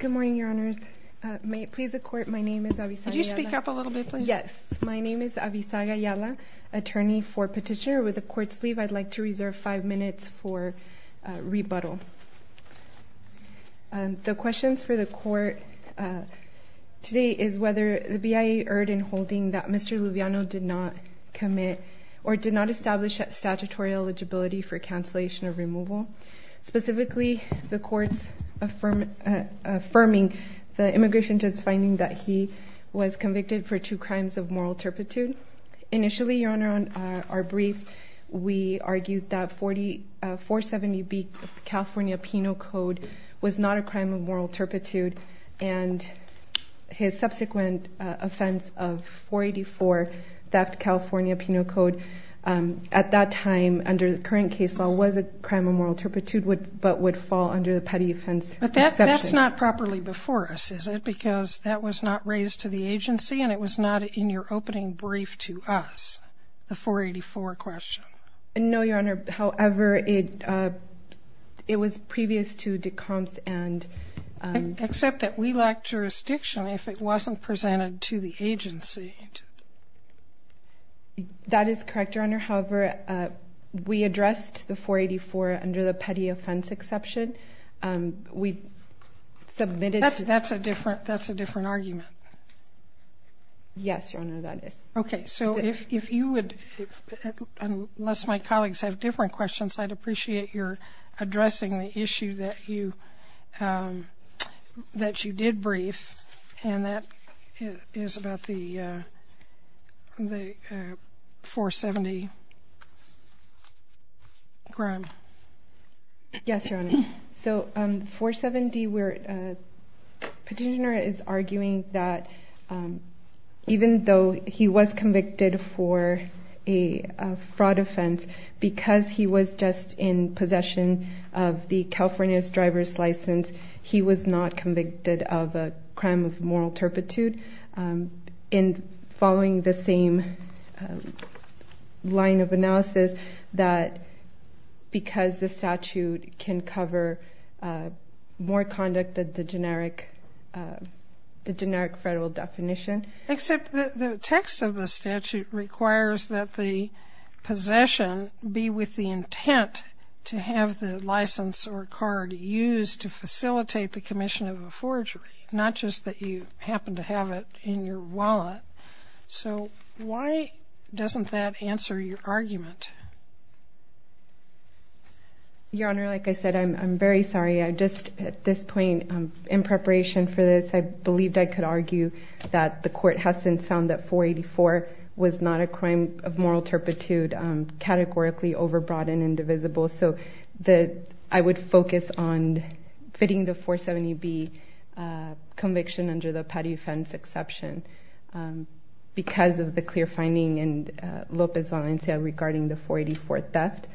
Good morning, Your Honours. May it please the Court, my name is Avisaga Yala. Could you speak up a little bit, please? Yes. My name is Avisaga Yala, attorney for Petitioner. With the Court's leave, I'd like to reserve five minutes for rebuttal. The questions for the Court today is whether the BIA erred in holding that Mr. Luviano did not commit or did not establish statutory eligibility for cancellation of removal. Specifically, the Court's affirming the immigration judge's finding that he was convicted for two crimes of moral turpitude. Initially, Your Honour, on our brief, we argued that 470B California Penal Code was not a crime of moral turpitude. And his subsequent offense of 484, theft California Penal Code, at that time, under the current case law, was a crime of moral turpitude, but would fall under the petty offense exception. But that's not properly before us, is it? Because that was not raised to the agency and it was not in your opening brief to us, the 484 question. No, Your Honour. However, it was previous to de compte and... Except that we lacked jurisdiction if it wasn't presented to the agency. That is correct, Your Honour. However, we addressed the 484 under the petty offense exception. We submitted... That's a different argument. Yes, Your Honour, that is. Okay, so if you would, unless my colleagues have different questions, I'd appreciate your addressing the issue that you did brief, and that is about the 470 crime. Yes, Your Honour. So, 470, Petitioner is arguing that even though he was convicted for a fraud offense, because he was just in possession of the California's driver's license, he was not convicted of a crime of moral turpitude. In following the same line of analysis, that because the statute can cover more conduct than the generic federal definition. Except that the text of the statute requires that the possession be with the intent to have the license or card used to facilitate the commission of a forgery, not just that you happen to have it in your wallet. So why doesn't that answer your argument? Your Honour, like I said, I'm very sorry. I just, at this point, in preparation for this, I believed I could argue that the court has since found that 484 was not a crime of moral turpitude, categorically overbroad and indivisible. So I would focus on fitting the 470B conviction under the petty offense exception because of the clear finding in Lopez Valencia regarding the 484 theft.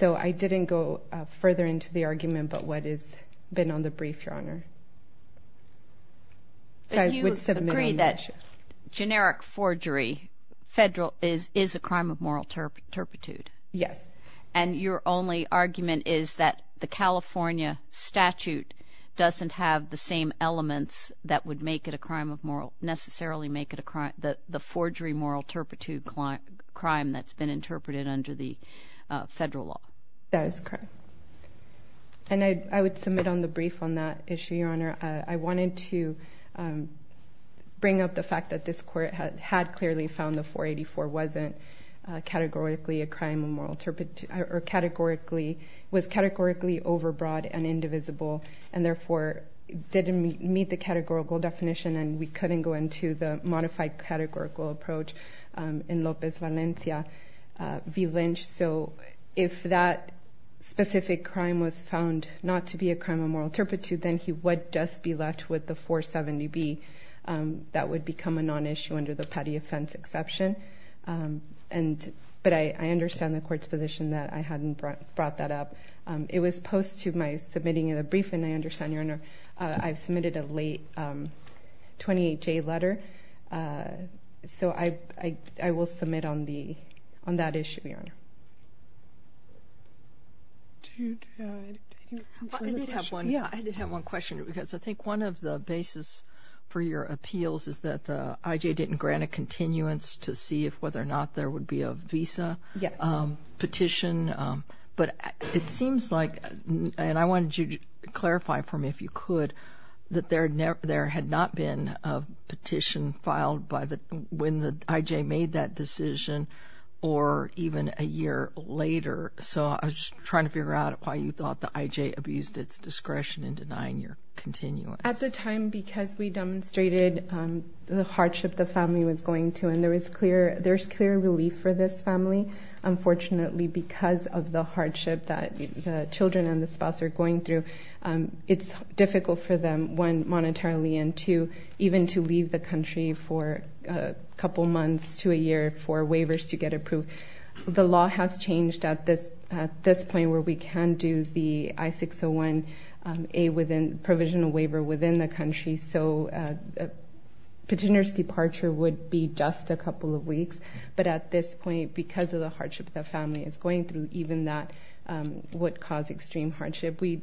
So I didn't go further into the argument but what has been on the brief, Your Honour. Do you agree that generic forgery is a crime of moral turpitude? Yes. And your only argument is that the California statute doesn't have the same elements that would make it a crime of moral, necessarily make it a crime, the forgery moral turpitude crime that's been interpreted under the federal law. That is correct. And I would submit on the brief on that issue, Your Honour. I wanted to bring up the fact that this court had clearly found the 484 wasn't categorically a crime of moral turpitude or categorically, was categorically overbroad and indivisible. And therefore, didn't meet the categorical definition and we couldn't go into the modified categorical approach in Lopez Valencia v. Lynch. So if that specific crime was found not to be a crime of moral turpitude, then he would just be left with the 470B. That would become a non-issue under the petty offense exception. But I understand the court's position that I hadn't brought that up. It was post to my submitting of the brief and I understand, Your Honour, I've submitted a late 28-J letter. So I will submit on that issue, Your Honour. I did have one question because I think one of the basis for your appeals is that the IJ didn't grant a continuance to see if whether or not there would be a visa petition. But it seems like, and I wanted you to clarify for me if you could, that there had not been a petition filed when the IJ made that decision or even a year later. So I was just trying to figure out why you thought the IJ abused its discretion in denying your continuance. At the time, because we demonstrated the hardship the family was going through, and there is clear relief for this family. Unfortunately, because of the hardship that the children and the spouse are going through, it's difficult for them, one, monetarily, and two, even to leave the country for a couple months to a year for waivers to get approved. The law has changed at this point where we can do the I-601A provisional waiver within the country. So a petitioner's departure would be just a couple of weeks. But at this point, because of the hardship the family is going through, even that would cause extreme hardship. We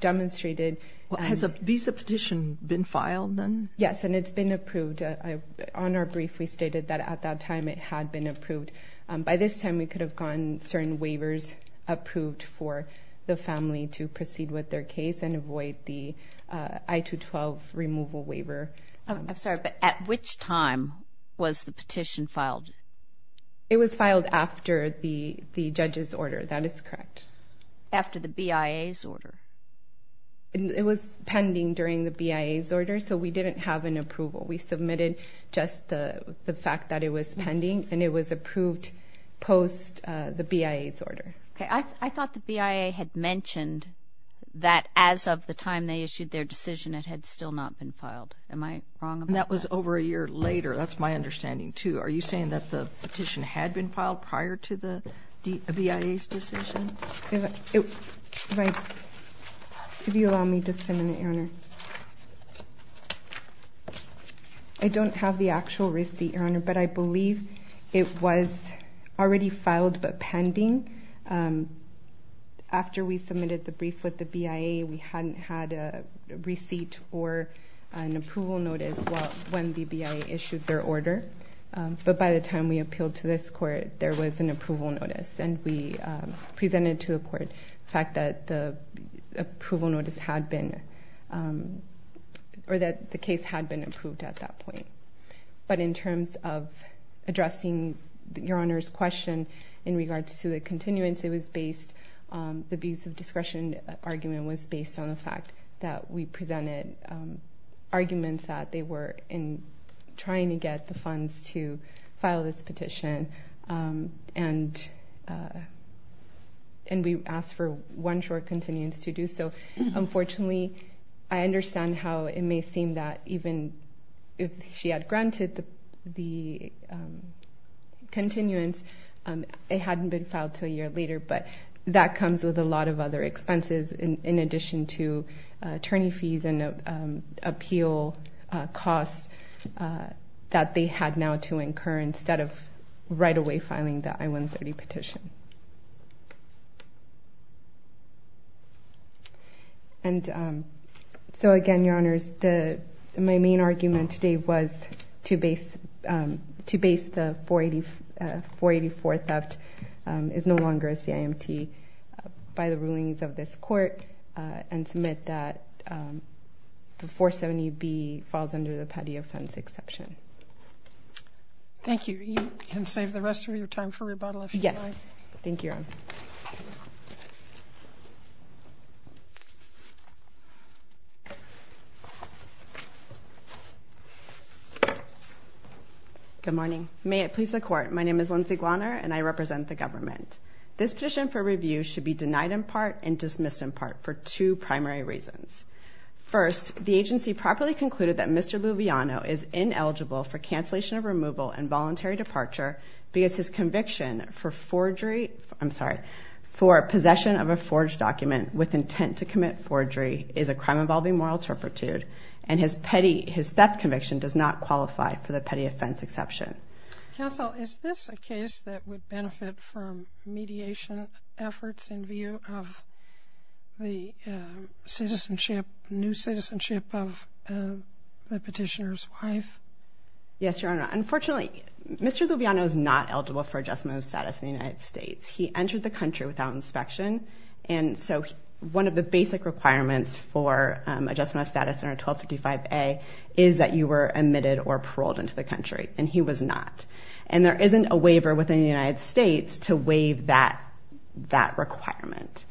demonstrated... Well, has a visa petition been filed then? Yes, and it's been approved. On our brief, we stated that at that time it had been approved. By this time, we could have gotten certain waivers approved for the family to proceed with their case and avoid the I-212 removal waiver. I'm sorry, but at which time was the petition filed? It was filed after the judge's order. That is correct. After the BIA's order? It was pending during the BIA's order, so we didn't have an approval. We submitted just the fact that it was pending, and it was approved post the BIA's order. Okay, I thought the BIA had mentioned that as of the time they issued their decision, it had still not been filed. Am I wrong about that? That was over a year later. That's my understanding, too. Are you saying that the petition had been filed prior to the BIA's decision? Could you allow me just a minute, Your Honor? I don't have the actual receipt, Your Honor, but I believe it was already filed but pending. After we submitted the brief with the BIA, we hadn't had a receipt or an approval notice when the BIA issued their order. But by the time we appealed to this court, there was an approval notice, and we presented to the court the fact that the case had been approved at that point. But in terms of addressing Your Honor's question in regards to the continuance, the abuse of discretion argument was based on the fact that we presented arguments that they were trying to get the funds to file this petition. And we asked for one short continuance to do so. Unfortunately, I understand how it may seem that even if she had granted the continuance, it hadn't been filed until a year later. But that comes with a lot of other expenses in addition to attorney fees and appeal costs that they had now to incur instead of right away filing the I-130 petition. And so again, Your Honor, my main argument today was to base the 484 theft is no longer a CIMT by the rulings of this court and submit that the 470B falls under the petty offense exception. Thank you. You can save the rest of your time for rebuttal if you'd like. Thank you, Your Honor. Good morning. May it please the court, my name is Lindsay Glarner and I represent the government. This petition for review should be denied in part and dismissed in part for two primary reasons. First, the agency properly concluded that Mr. Loviano is ineligible for cancellation of removal and voluntary departure because his conviction for forgery, I'm sorry, for possession of a forged document with intent to commit forgery is a crime involving moral turpitude and his petty, his theft conviction does not qualify for the petty offense exception. Counsel, is this a case that would benefit from mediation efforts in view of the citizenship, new citizenship of the petitioner's wife? Yes, Your Honor. Unfortunately, Mr. Loviano is not eligible for adjustment of status in the United States. He entered the country without inspection and so one of the basic requirements for adjustment of status under 1255A is that you were admitted or paroled into the country and he was not. And there isn't a waiver within the United States to waive that requirement.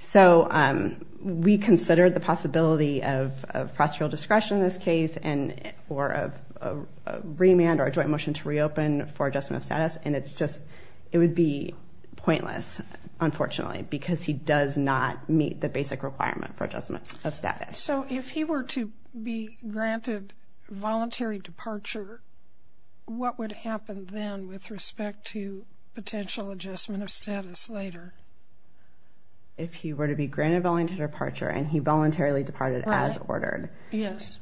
So we considered the possibility of prosecutorial discretion in this case and or a remand or a joint motion to reopen for adjustment of status and it's just, it would be pointless, unfortunately, because he does not meet the basic requirement for adjustment of status. So if he were to be granted voluntary departure, what would happen then with respect to potential adjustment of status later? If he were to be granted voluntary departure and he voluntarily departed as ordered. Yes.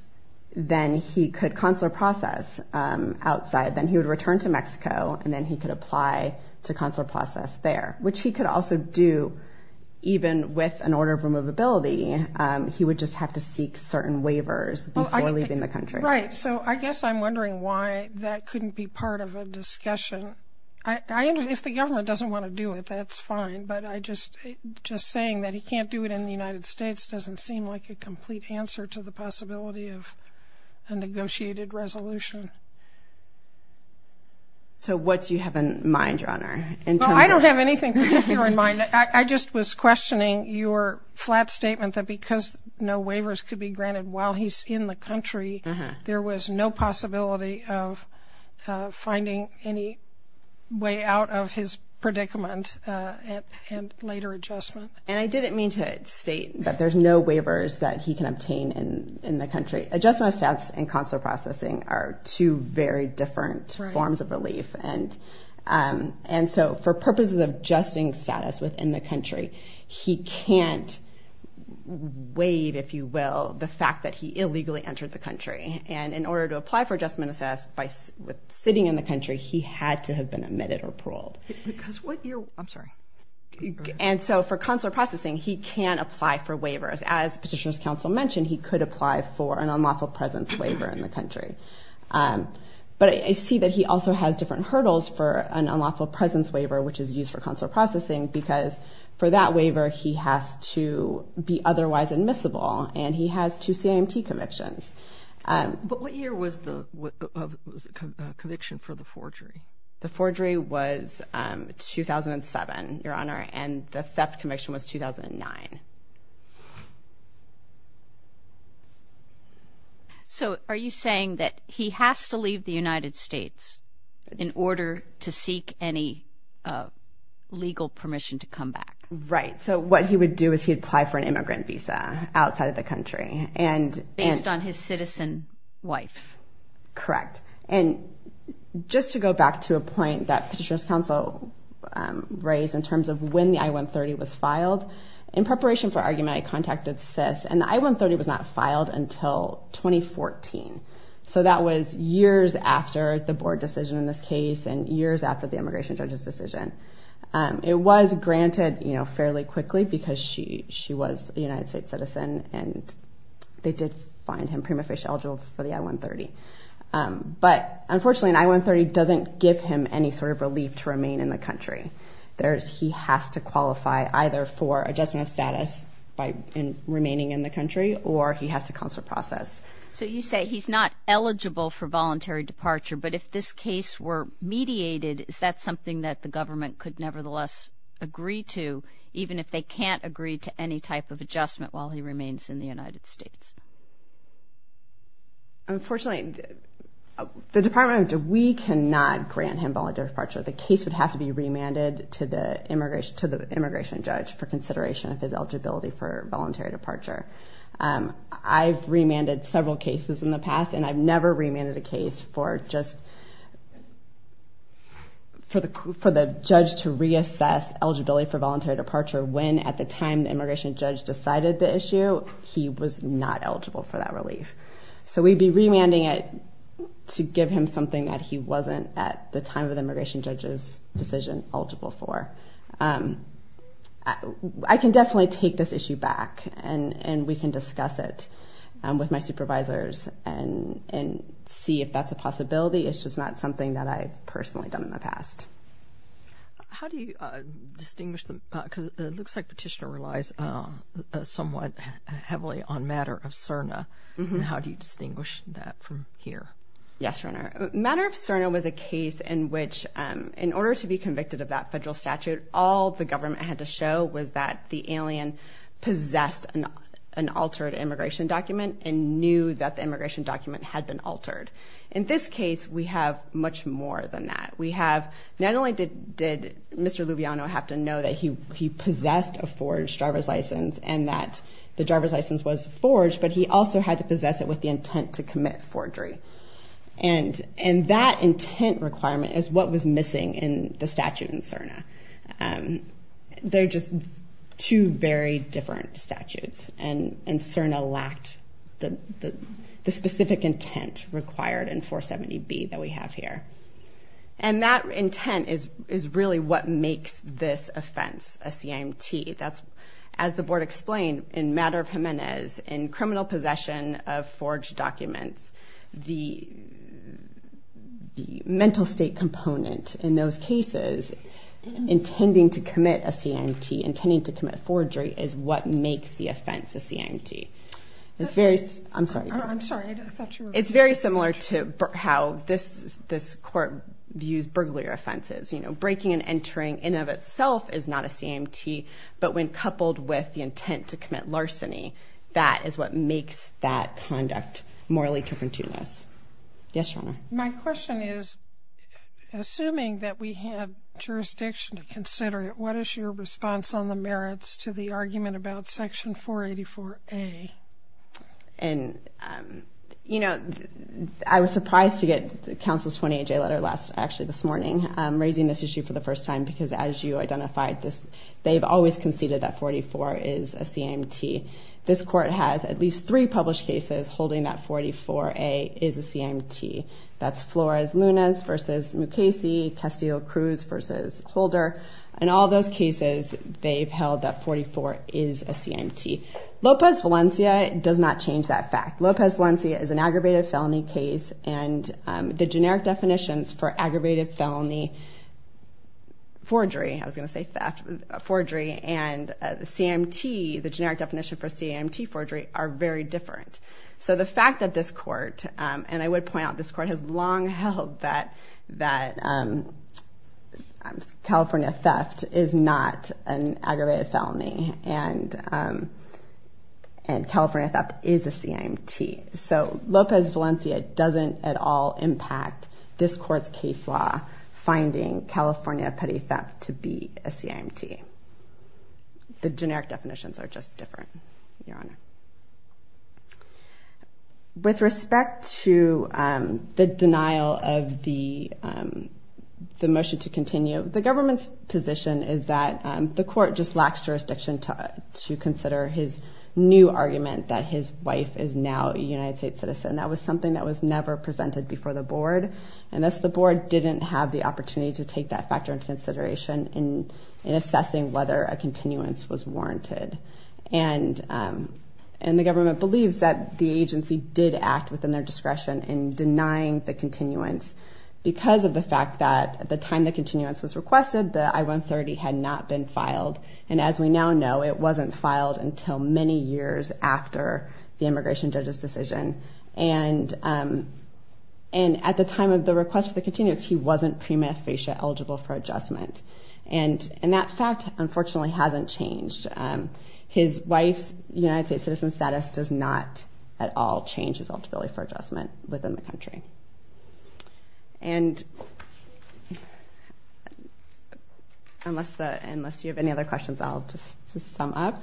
Then he could consular process outside, then he would return to Mexico and then he could apply to consular process there, which he could also do even with an order of removability. He would just have to seek certain waivers before leaving the country. Right. So I guess I'm wondering why that couldn't be part of a discussion. If the government doesn't want to do it, that's fine, but just saying that he can't do it in the United States doesn't seem like a complete answer to the possibility of a negotiated resolution. So what do you have in mind, Your Honor? I don't have anything particular in mind. I just was questioning your flat statement that because no waivers could be granted while he's in the country, there was no possibility of finding any way out of his predicament and later adjustment. And I didn't mean to state that there's no waivers that he can obtain in the country. Adjustment of status and consular processing are two very different forms of relief. And so for purposes of adjusting status within the country, he can't waive, if you will, the fact that he illegally entered the country. And in order to apply for adjustment of status by sitting in the country, he had to have been admitted or paroled. Because what you're – I'm sorry. And so for consular processing, he can apply for waivers. As Petitioner's Counsel mentioned, he could apply for an unlawful presence waiver in the country. But I see that he also has different hurdles for an unlawful presence waiver, which is used for consular processing, because for that waiver, he has to be otherwise admissible. And he has two CIMT convictions. But what year was the conviction for the forgery? The forgery was 2007, Your Honor, and the theft conviction was 2009. So are you saying that he has to leave the United States in order to seek any legal permission to come back? Right. So what he would do is he'd apply for an immigrant visa outside of the country. Based on his citizen wife. Correct. And just to go back to a point that Petitioner's Counsel raised in terms of when the I-130 was filed, in preparation for argument, I contacted SIS. And the I-130 was not filed until 2014. So that was years after the board decision in this case and years after the immigration judge's decision. It was granted fairly quickly because she was a United States citizen and they did find him prima facie eligible for the I-130. But unfortunately, an I-130 doesn't give him any sort of relief to remain in the country. He has to qualify either for adjustment of status by remaining in the country or he has to consular process. So you say he's not eligible for voluntary departure. But if this case were mediated, is that something that the government could nevertheless agree to, even if they can't agree to any type of adjustment while he remains in the United States? Unfortunately, the Department of Justice, we cannot grant him voluntary departure. The case would have to be remanded to the immigration judge for consideration of his eligibility for voluntary departure. I've remanded several cases in the past and I've never remanded a case for just for the judge to reassess eligibility for voluntary departure. When at the time the immigration judge decided the issue, he was not eligible for that relief. So we'd be remanding it to give him something that he wasn't at the time of the immigration judge's decision eligible for. I can definitely take this issue back and we can discuss it with my supervisors and see if that's a possibility. It's just not something that I've personally done in the past. How do you distinguish them? Because it looks like Petitioner relies somewhat heavily on matter of CERNA. How do you distinguish that from here? Yes, Your Honor. Matter of CERNA was a case in which, in order to be convicted of that federal statute, all the government had to show was that the alien possessed an altered immigration document and knew that the immigration document had been altered. In this case, we have much more than that. We have not only did Mr. Lubiano have to know that he possessed a forged driver's license and that the driver's license was forged, but he also had to possess it with the intent to commit forgery. And that intent requirement is what was missing in the statute in CERNA. They're just two very different statutes and CERNA lacked the specific intent required in 470B that we have here. And that intent is really what makes this offense a CIMT. As the Board explained, in matter of Jimenez, in criminal possession of forged documents, the mental state component in those cases, intending to commit a CIMT, intending to commit forgery, is what makes the offense a CIMT. It's very similar to how this Court views burglar offenses. You know, breaking and entering in and of itself is not a CIMT, but when coupled with the intent to commit larceny, that is what makes that conduct morally turpentinous. Yes, Your Honor. My question is, assuming that we had jurisdiction to consider it, what is your response on the merits to the argument about Section 484A? And, you know, I was surprised to get Counsel's 28-J letter actually this morning, raising this issue for the first time, because as you identified, they've always conceded that 44 is a CIMT. This Court has at least three published cases holding that 44A is a CIMT. That's Flores-Lunas v. Mukasey, Castillo-Cruz v. Holder. In all those cases, they've held that 44 is a CIMT. Lopez-Valencia does not change that fact. Lopez-Valencia is an aggravated felony case, and the generic definitions for aggravated felony forgery, I was going to say theft, forgery, and the CIMT, the generic definition for CIMT forgery, are very different. So the fact that this Court, and I would point out, this Court has long held that California theft is not an aggravated felony, and California theft is a CIMT. So Lopez-Valencia doesn't at all impact this Court's case law finding California petty theft to be a CIMT. The generic definitions are just different, Your Honor. With respect to the denial of the motion to continue, the government's position is that the Court just lacks jurisdiction to consider his new argument that his wife is now a United States citizen. That was something that was never presented before the Board, and thus the Board didn't have the opportunity to take that factor into consideration in assessing whether a continuance was warranted. And the government believes that the agency did act within their discretion in denying the continuance because of the fact that at the time the continuance was requested, the I-130 had not been filed. And as we now know, it wasn't filed until many years after the immigration judge's decision. And at the time of the request for the continuance, he wasn't pre-manifatia eligible for adjustment. And that fact, unfortunately, hasn't changed. His wife's United States citizen status does not at all change his eligibility for adjustment within the country. And unless you have any other questions, I'll just sum up.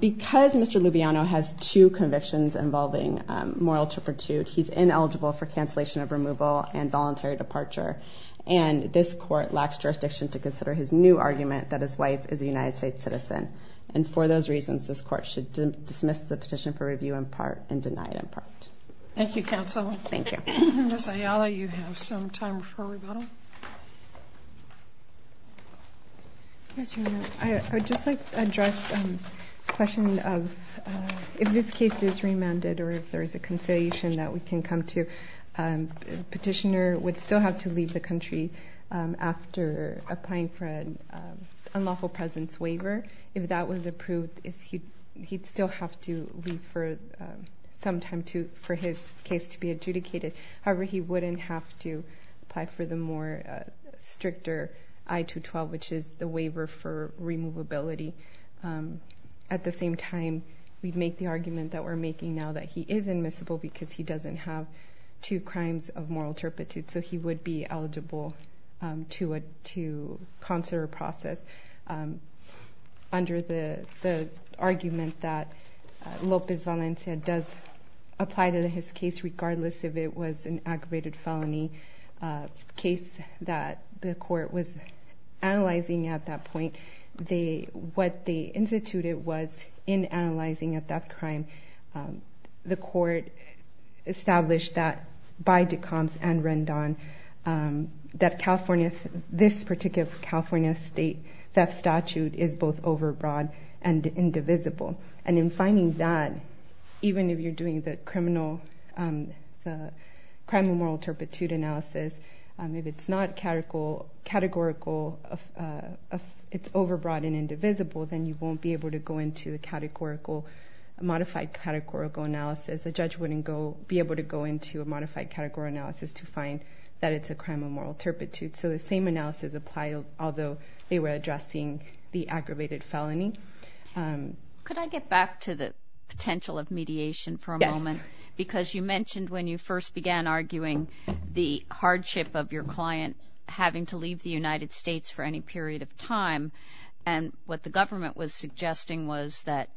Because Mr. Lubiano has two convictions involving moral turpitude, he's ineligible for cancellation of removal and voluntary departure. And this Court lacks jurisdiction to consider his new argument that his wife is a United States citizen. And for those reasons, this Court should dismiss the petition for review in part and deny it in part. Thank you, Counsel. Thank you. Ms. Ayala, you have some time for rebuttal. Yes, Your Honor. I would just like to address the question of if this case is remanded or if there is a conciliation that we can come to, the petitioner would still have to leave the country after applying for an unlawful presence waiver. If that was approved, he'd still have to leave for some time for his case to be adjudicated. However, he wouldn't have to apply for the more stricter I-212, which is the waiver for removability. At the same time, we'd make the argument that we're making now that he is admissible because he doesn't have two crimes of moral turpitude, so he would be eligible to consider a process. Under the argument that Lopez Valencia does apply to his case regardless if it was an aggravated felony case that the Court was analyzing at that point, what they instituted was in analyzing a death crime, the Court established that by Decombs and Rendon that this particular California state theft statute is both overbroad and indivisible. And in finding that, even if you're doing the crime of moral turpitude analysis, if it's not categorical, it's overbroad and indivisible, then you won't be able to go into a modified categorical analysis. A judge wouldn't be able to go into a modified categorical analysis to find that it's a crime of moral turpitude. So the same analysis applies, although they were addressing the aggravated felony. Could I get back to the potential of mediation for a moment? Yes. Because you mentioned when you first began arguing the hardship of your client having to leave the United States for any period of time and what the government was suggesting was that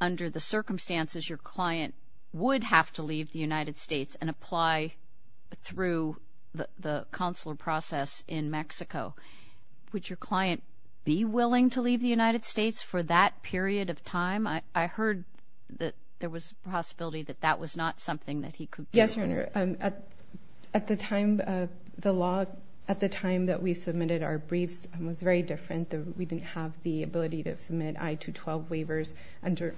under the circumstances, your client would have to leave the United States and apply through the consular process in Mexico. Would your client be willing to leave the United States for that period of time? I heard that there was a possibility that that was not something that he could do. Yes, Your Honor. At the time, the law at the time that we submitted our briefs was very different. We didn't have the ability to submit I-212 waivers under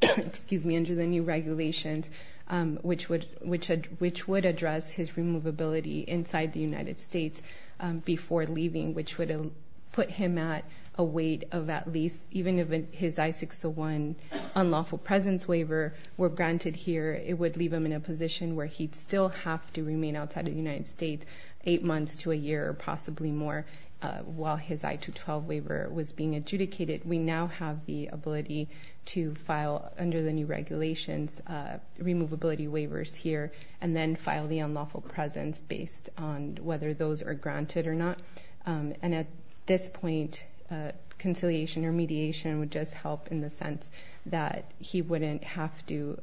the new regulations, which would address his removability inside the United States before leaving, which would put him at a weight of at least, even if his I-601 unlawful presence waiver were granted here, it would leave him in a position where he'd still have to remain outside the United States eight months to a year or possibly more while his I-212 waiver was being adjudicated. We now have the ability to file under the new regulations removability waivers here and then file the unlawful presence based on whether those are granted or not. And at this point, conciliation or mediation would just help in the sense that he wouldn't have to,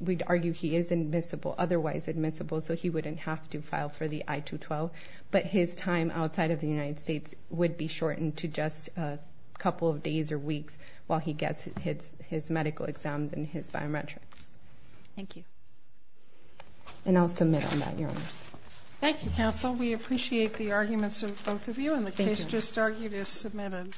we'd argue he is admissible, otherwise admissible, so he wouldn't have to file for the I-212, but his time outside of the United States would be shortened to just a couple of days or weeks while he gets his medical exams and his biometrics. Thank you. And I'll submit on that, Your Honor. Thank you, counsel. We appreciate the arguments of both of you, and the case just argued is submitted.